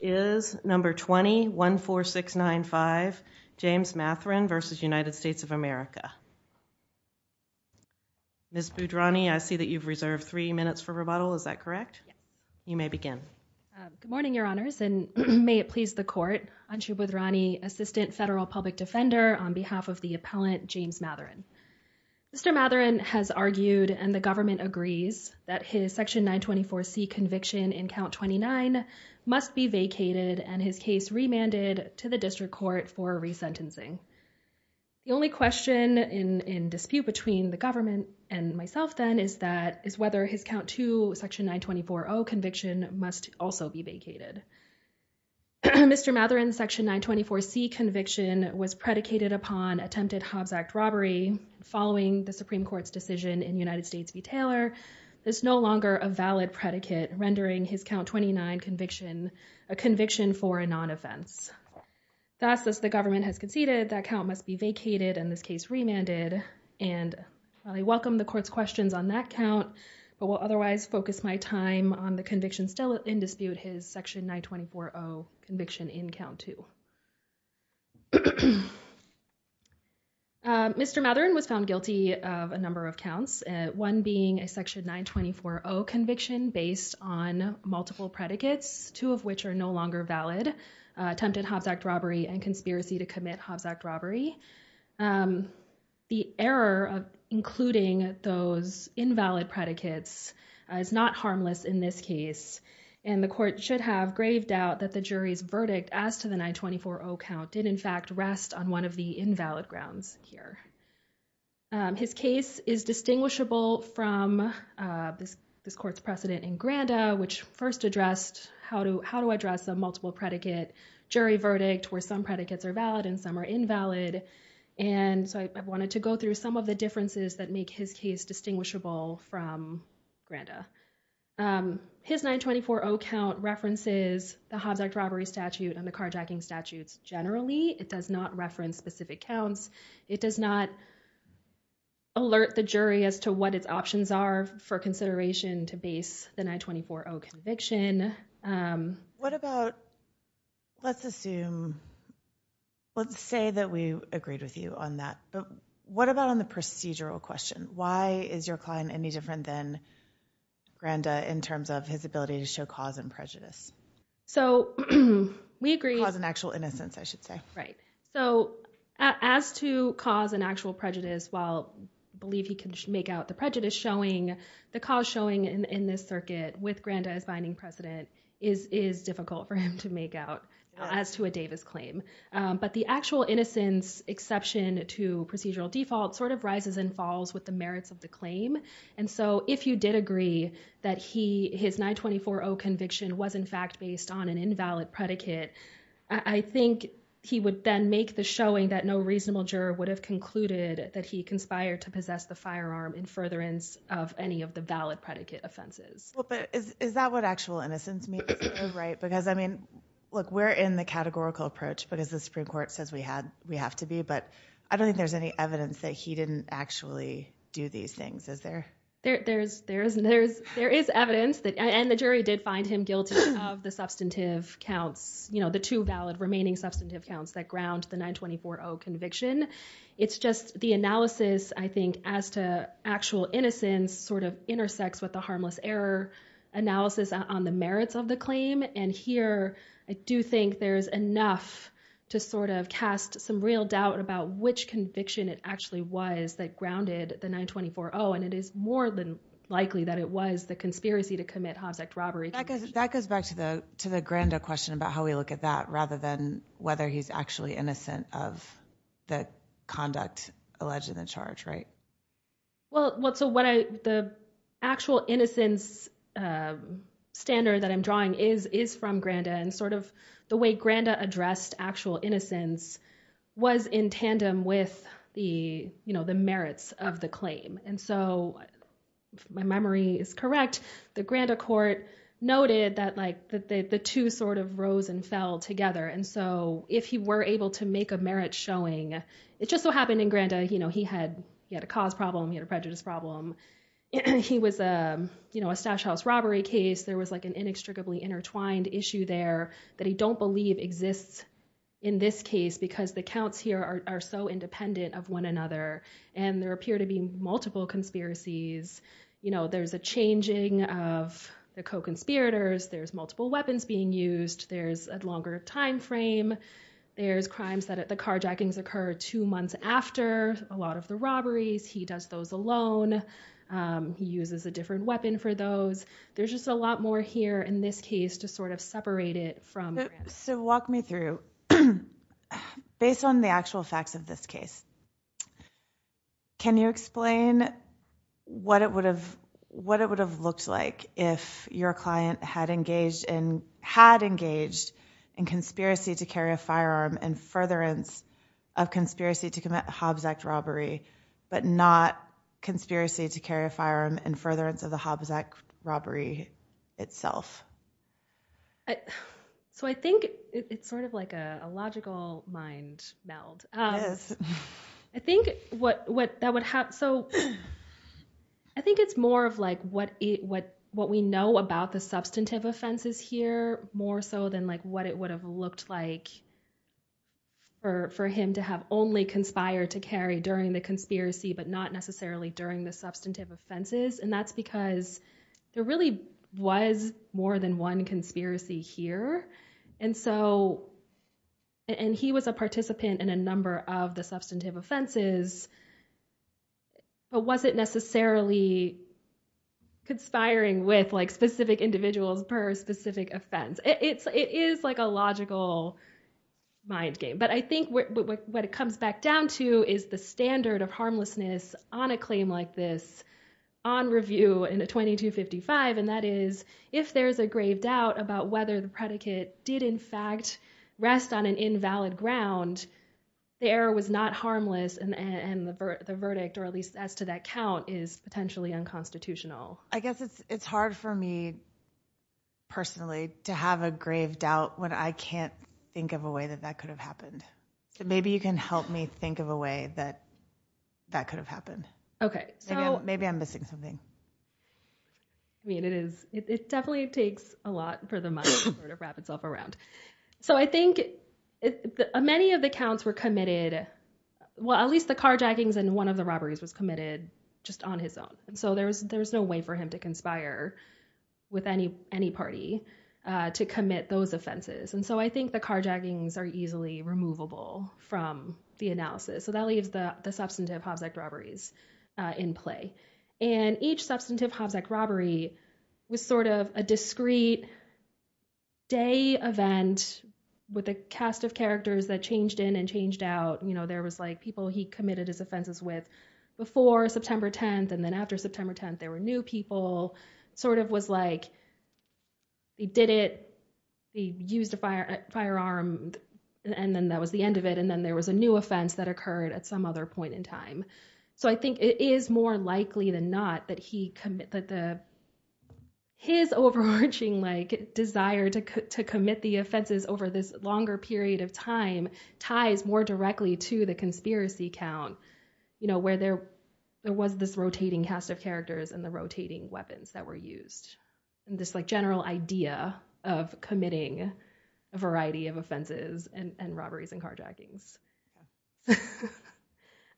is number 214695 James Mathurin v. United States of America. Ms. Budrani, I see that you've reserved three minutes for rebuttal. Is that correct? You may begin. Good morning, Your Honors, and may it please the Court. Anshu Budrani, Assistant Federal Public Defender, on behalf of the Appellant James Mathurin. Mr. Mathurin has argued, and the government agrees, that his Section 924C conviction in Count 29 must be vacated and his case remanded to the District Court for resentencing. The only question in dispute between the government and myself, then, is whether his Count 2 Section 924O conviction must also be vacated. Mr. Mathurin's Section 924C conviction was predicated upon attempted Hobbs Act robbery. Following the Supreme Court's decision in United States v. Taylor, this is no longer a valid predicate, rendering his Count 29 conviction a conviction for a non-offense. Thus, as the government has conceded, that count must be vacated and this case remanded, and I welcome the Court's questions on that count, but will otherwise focus my time on the conviction still in dispute, his Section 924O conviction in Count 2. Mr. Mathurin was found of a number of counts, one being a Section 924O conviction based on multiple predicates, two of which are no longer valid, attempted Hobbs Act robbery and conspiracy to commit Hobbs Act robbery. The error of including those invalid predicates is not harmless in this case, and the Court should have grave doubt that the jury's verdict as to the 924O count did, in fact, rest on one of the invalid grounds here. His case is distinguishable from this Court's precedent in Granda, which first addressed how to address a multiple predicate jury verdict where some predicates are valid and some are invalid, and so I wanted to go through some of the differences that make his case distinguishable from Granda. His 924O count references the Hobbs robbery statute and the carjacking statutes generally. It does not reference specific counts. It does not alert the jury as to what its options are for consideration to base the 924O conviction. What about, let's assume, let's say that we agreed with you on that, but what about on the procedural question? Why is your client any different than Granda in terms of his ability to show cause and prejudice? So, we agree. Cause and actual innocence, I should say. Right. So, as to cause and actual prejudice, while I believe he can make out the prejudice showing, the cause showing in this circuit with Granda as binding precedent is difficult for him to make out as to a Davis claim, but the actual innocence exception to procedural default sort of rises and falls with the merits of the claim, and so if you did agree that his 924O conviction was, in fact, based on an invalid predicate, I think he would then make the showing that no reasonable juror would have concluded that he conspired to possess the firearm in furtherance of any of the valid predicate offenses. Well, but is that what actual innocence means? Because, I mean, look, we're in the categorical approach because the Supreme Court says we have to be, but I don't think there's any evidence that he didn't actually do these things. Is there? There is evidence that, and the jury did find him guilty of the substantive counts, you know, the two valid remaining substantive counts that ground the 924O conviction. It's just the analysis, I think, as to actual innocence sort of intersects with the harmless error analysis on the merits of the claim, and here I do think there's enough to sort of cast some real doubt about which conviction it actually was that grounded the 924O, and it is more than likely that it was the conspiracy to commit Hobbs Act robbery. That goes back to the grander question about how we look at that rather than whether he's actually innocent of the conduct alleged in the charge, right? Well, so the actual innocence standard that I'm drawing is from Granda, and sort of the way Granda addressed actual innocence was in tandem with the merits of the claim, and so if my memory is correct, the Granda court noted that the two sort of rose and fell together, and so if he were he had a cause problem, he had a prejudice problem, he was a, you know, a stash house robbery case, there was like an inextricably intertwined issue there that he don't believe exists in this case because the counts here are so independent of one another, and there appear to be multiple conspiracies, you know, there's a changing of the co-conspirators, there's multiple weapons being used, there's a longer time frame, there's crimes that the carjackings occur two months after a lot of the robberies, he does those alone, he uses a different weapon for those, there's just a lot more here in this case to sort of separate it from Granda. So walk me through, based on the actual facts of this case, can you explain what it would have, what it would have looked like if your client had engaged in, had engaged in conspiracy to carry a firearm and furtherance of conspiracy to commit Hobbs Act robbery, but not conspiracy to carry a firearm and furtherance of the Hobbs Act robbery itself? So I think it's sort of like a logical mind meld. I think what that would have, so I think it's more of like what we know about the substantive offenses here, more so than like what it would have looked like for him to have only conspired to carry during the conspiracy, but not necessarily during the substantive offenses, and that's because there really was more than one conspiracy here, and so, and he was a participant in a number of the substantive offenses, but wasn't necessarily conspiring with like specific individuals per specific offense. It is like a logical mind game, but I think what it comes back down to is the standard of harmlessness on a claim like this on review in a 2255, and that is if there's a grave doubt about whether the predicate did in fact rest on an invalid ground, the error was not harmless, and the verdict, or at least as to that count, is potentially unconstitutional. I guess it's hard for me personally to have a grave doubt when I can't think of a way that that could have happened, so maybe you can help me think of a way that that could have happened. Okay. Maybe I'm missing something. I mean it is, it definitely takes a lot for the mind to sort of wrap itself around, so I think many of the counts were committed, well, at least the carjackings and one of the robberies was committed just on his own, and so there was no way for him to conspire with any party to commit those offenses, and so I think the carjackings are easily removable from the analysis, so that leaves the substantive Hobbs Act robberies in play, and each substantive Hobbs Act robbery was sort of a discrete day event with a cast of characters that changed in and changed out, you know, there was like people he committed his offenses with before September 10th, and then after September 10th there were new people, sort of was like they did it, they used a firearm, and then that was the end of it, and then there was a new offense that occurred at some other point in time, so I think it is more over this longer period of time, ties more directly to the conspiracy count, you know, where there was this rotating cast of characters and the rotating weapons that were used, and this like general idea of committing a variety of offenses and robberies and carjackings,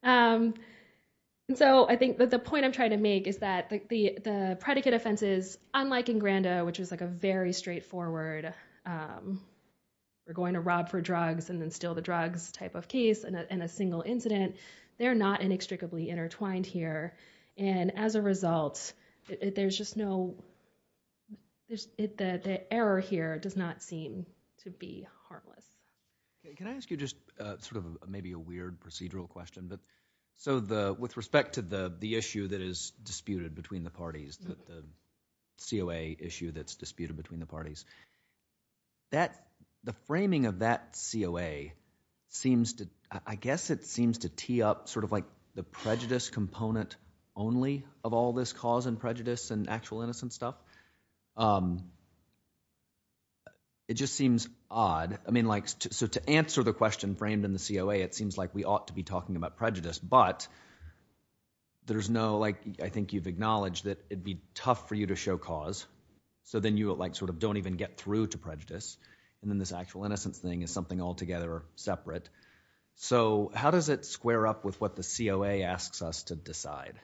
and so I think that the point I'm trying to make is that the predicate offenses, unlike in Grandot, which is like a very straightforward, we're going to rob for drugs and then steal the drugs type of case in a single incident, they're not inextricably intertwined here, and as a result there's just no, the error here does not seem to be harmless. Can I ask you just sort of maybe a weird procedural question, but so with respect to the issue that is disputed between the parties, the COA issue that's disputed between the parties, that the framing of that COA seems to, I guess it seems to tee up sort of like the prejudice component only of all this cause and prejudice and actual innocent stuff, it just seems odd, I mean like, so to answer the question framed in the COA, it seems like we ought to be talking about prejudice, but there's no like, I think you've acknowledged that it'd be tough for you to show cause, so then you like sort of don't even get through to prejudice, and then this actual innocence thing is something altogether separate, so how does it square up with what the COA asks us to decide?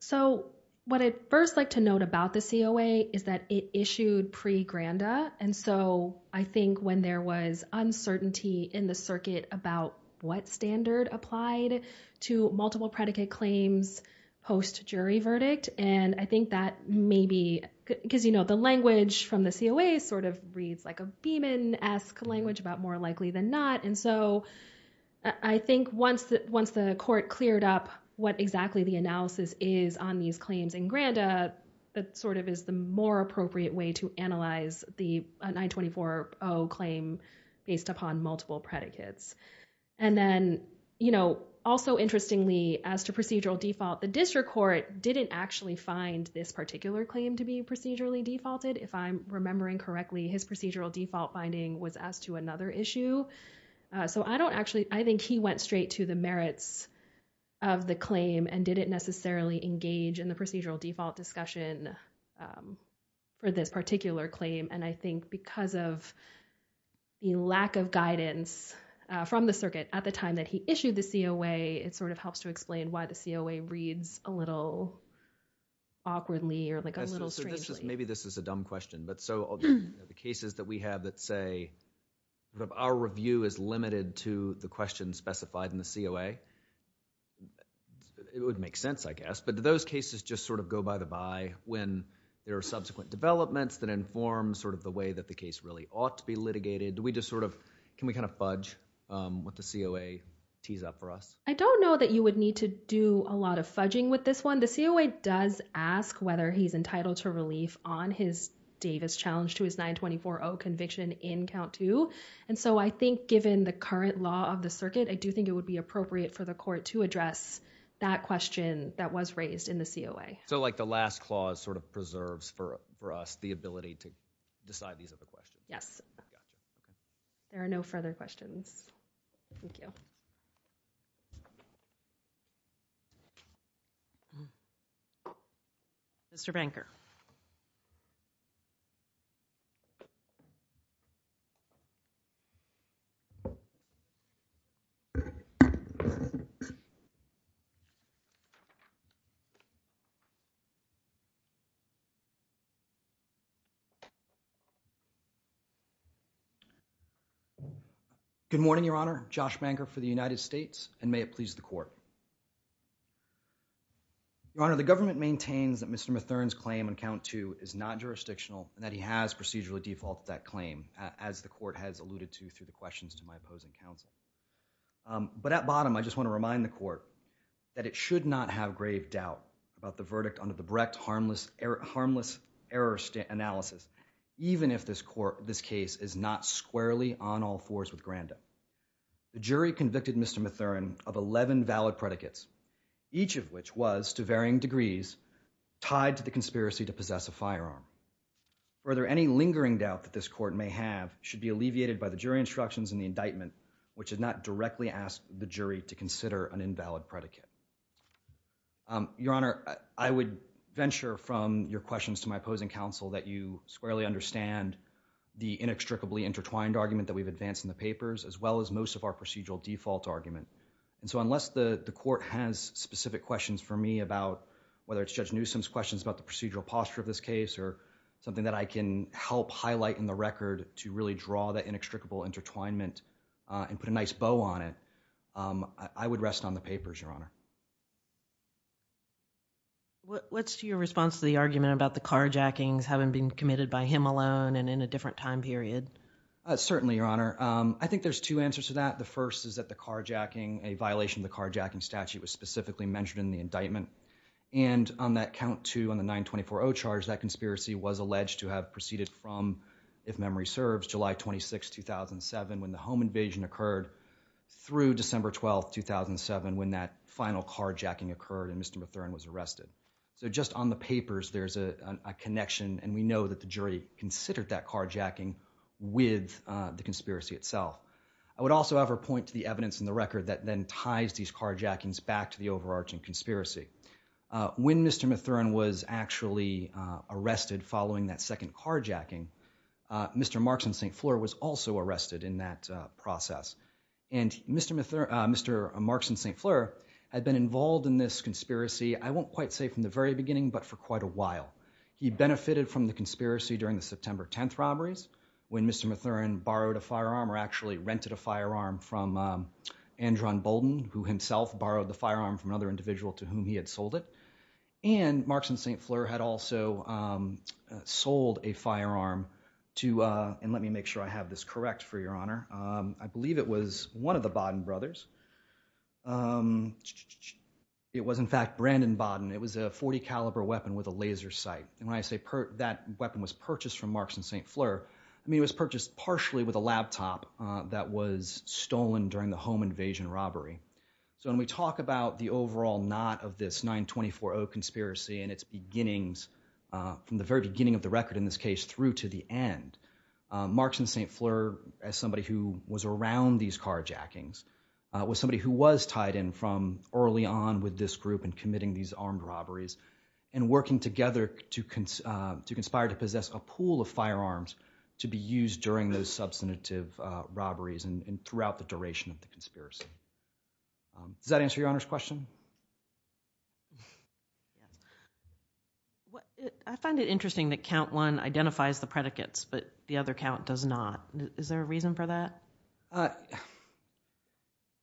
So what I'd first like to note about the COA is that it issued pre-Grandot, and so I think when there was uncertainty in the circuit about what standard applied to multiple predicate claims post-jury verdict, and I think that maybe, because you know the language from the COA sort of reads like a Beeman-esque language about more likely than not, and so I think once the court cleared up what exactly the analysis is on these claims in Grandot, that sort of is the more appropriate way to analyze the 924-0 claim based upon multiple predicates, and then you know also interestingly as to procedural default, the district court didn't actually find this particular claim to be procedurally defaulted, if I'm remembering correctly, his procedural default finding was as to another issue, so I don't actually, I think he went straight to the merits of the claim and didn't necessarily engage in the procedural default discussion for this particular claim, and I think because of the lack of guidance from the circuit at the time that he issued the COA, it sort of helps to explain why the COA reads a little awkwardly or like a little strangely. Maybe this is a dumb question, but so the cases that we have that say that our review is limited to the questions specified in the COA, it would make sense, I guess, but do those cases just sort of go by the by when there are subsequent developments that inform sort of the way that the case really ought to be litigated? Do we just sort of, can we kind of fudge what the COA tees up for us? I don't know that you would need to do a lot of fudging with this one. The COA does ask whether he's entitled to relief on his Davis challenge to his 924-0 conviction in count two, and so I think given the current law of the court to address that question that was raised in the COA. So like the last clause sort of preserves for us the ability to decide these other questions. Yes. There are no further questions. Thank you. Mr. Banker. Good morning, Your Honor. Josh Banker for the United States, and may it please the court. Your Honor, the government maintains that Mr. Matherne's claim on count two is not jurisdictional and that he has procedurally defaulted that claim, as the court has alluded to through questions to my opposing counsel. But at bottom, I just want to remind the court that it should not have grave doubt about the verdict under the Brecht harmless error analysis, even if this court, this case is not squarely on all fours with Granda. The jury convicted Mr. Matherne of 11 valid predicates, each of which was, to varying degrees, tied to the conspiracy to possess a firearm. Further, any lingering doubt that this court may have should be alleviated by the jury instructions in the indictment, which does not directly ask the jury to consider an invalid predicate. Your Honor, I would venture from your questions to my opposing counsel that you squarely understand the inextricably intertwined argument that we've advanced in the papers, as well as most of our procedural default argument. And so unless the court has specific questions for me about whether it's Judge Newsom's questions about the procedural posture of this case or something that I can help highlight in the record to really draw that inextricable intertwinement and put a nice bow on it, I would rest on the papers, Your Honor. What's your response to the argument about the carjackings having been committed by him alone and in a different time period? Certainly, Your Honor. I think there's two answers to that. The first is that the carjacking, a violation of the carjacking statute, was specifically mentioned in the indictment. And on that count, too, on the 924-0 charge, that conspiracy was alleged to have proceeded from, if memory serves, July 26, 2007, when the home invasion occurred, through December 12, 2007, when that final carjacking occurred and Mr. Mathurin was arrested. So just on the papers, there's a connection, and we know that the jury considered that carjacking with the conspiracy itself. I would also, however, point to the evidence in the record that then ties these to the overarching conspiracy. When Mr. Mathurin was actually arrested following that second carjacking, Mr. Markson St. Fleur was also arrested in that process. And Mr. Markson St. Fleur had been involved in this conspiracy, I won't quite say from the very beginning, but for quite a while. He benefited from the conspiracy during the September 10th robberies, when Mr. Mathurin borrowed a firearm or actually rented a firearm from Andron Bolden, who himself borrowed the firearm from another individual to whom he had sold it, and Markson St. Fleur had also sold a firearm to, and let me make sure I have this correct for your honor, I believe it was one of the Bolden brothers, it was in fact Brandon Bolden. It was a .40 caliber weapon with a laser sight, and when I say that weapon was purchased from Markson St. Fleur, I mean it was purchased partially with a laptop that was stolen during the home invasion robbery. So when we talk about the overall knot of this 924-0 conspiracy and its beginnings, from the very beginning of the record in this case through to the end, Markson St. Fleur, as somebody who was around these carjackings, was somebody who was tied in from early on with this group and committing these armed robberies, and working together to conspire to possess a pool of firearms to be used during those substantive robberies and throughout the duration of the conspiracy. Does that answer your honor's question? I find it interesting that count one identifies the predicates, but the other count does not. Is there a reason for that?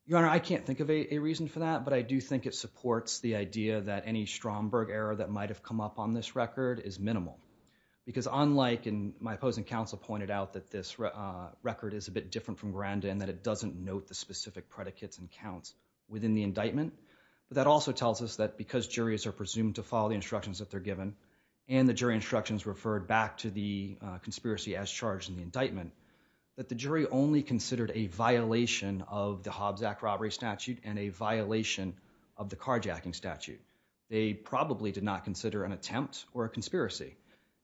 Your honor, I can't think of a reason for that, but I do think it supports the idea that any Stromberg error that might have come up on this record is minimal, because unlike, and my opposing counsel pointed out that this record is a bit different from Grandin, that it doesn't note the specific predicates and counts within the indictment, but that also tells us that because juries are presumed to follow the instructions that they're given, and the jury instructions referred back to the conspiracy as charged in the indictment, that the jury only considered a violation of the Hobbs Act robbery statute and a violation of the carjacking statute. They probably did not consider an attempt or a conspiracy,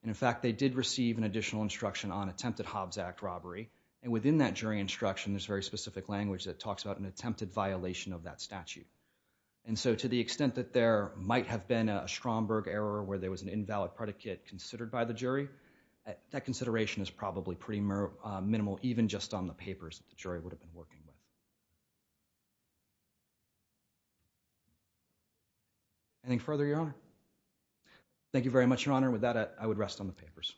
and in fact they did receive an additional instruction on attempted Hobbs Act robbery, and within that jury instruction there's very specific language that talks about an attempted violation of that statute. And so to the extent that there might have been a Stromberg error where there was an invalid predicate considered by the jury, that consideration is probably pretty minimal even just on the papers that the jury would have been working with. Anything further, Your Honor? Thank you very much, Your Honor. With that, I would rest on the papers.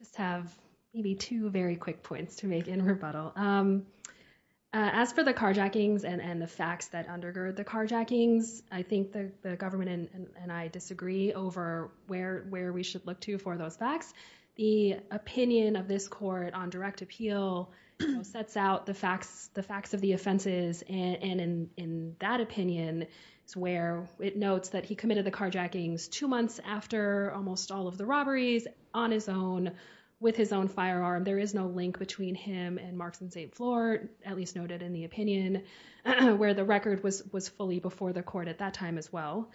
Just have maybe two very quick points to make in rebuttal. As for the carjackings and the facts that undergird the carjackings, I think the government and I disagree over where we should look to for those facts. The opinion of this court on direct appeal sets out the facts of the offenses, and in that opinion it's where it notes that he committed the carjackings two months after almost all of the robberies, on his own, with his own firearm. There is no link between him and Marks and St. Floyd, at least noted in the opinion, where the record was fully before the court at that time as well.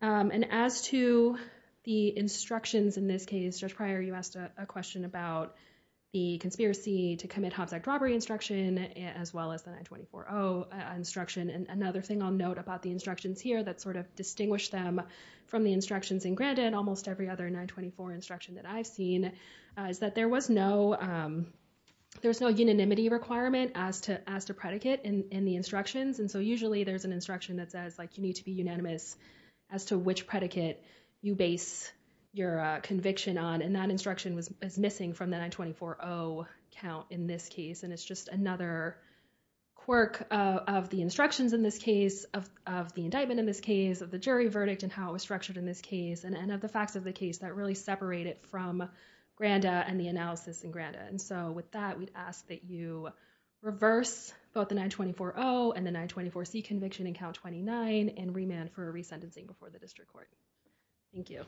And as to the instructions in this case, Judge Pryor, you asked a question about the conspiracy to commit Hobbs Act robbery instruction as well as the 924-0 instruction. And another thing I'll note about the instructions here that sort of distinguished them from the instructions in Grandin, almost every other 924 instruction that I've seen, is that there was no unanimity requirement as to predicate in the instructions. And so usually there's an instruction that says, like, you need to be unanimous as to which predicate you base your conviction on, and that instruction is missing from the 924-0 count in this case. And it's just another quirk of the instructions in this case, of the indictment in this case, of the jury verdict, and how it was structured in this case, and of the facts of the case that really separate it from Grandin and the analysis in Grandin. And so with that, we'd ask that you reverse both the 924-0 and the 924-C conviction in count 29 and remand for resentencing before the district court. Thank you.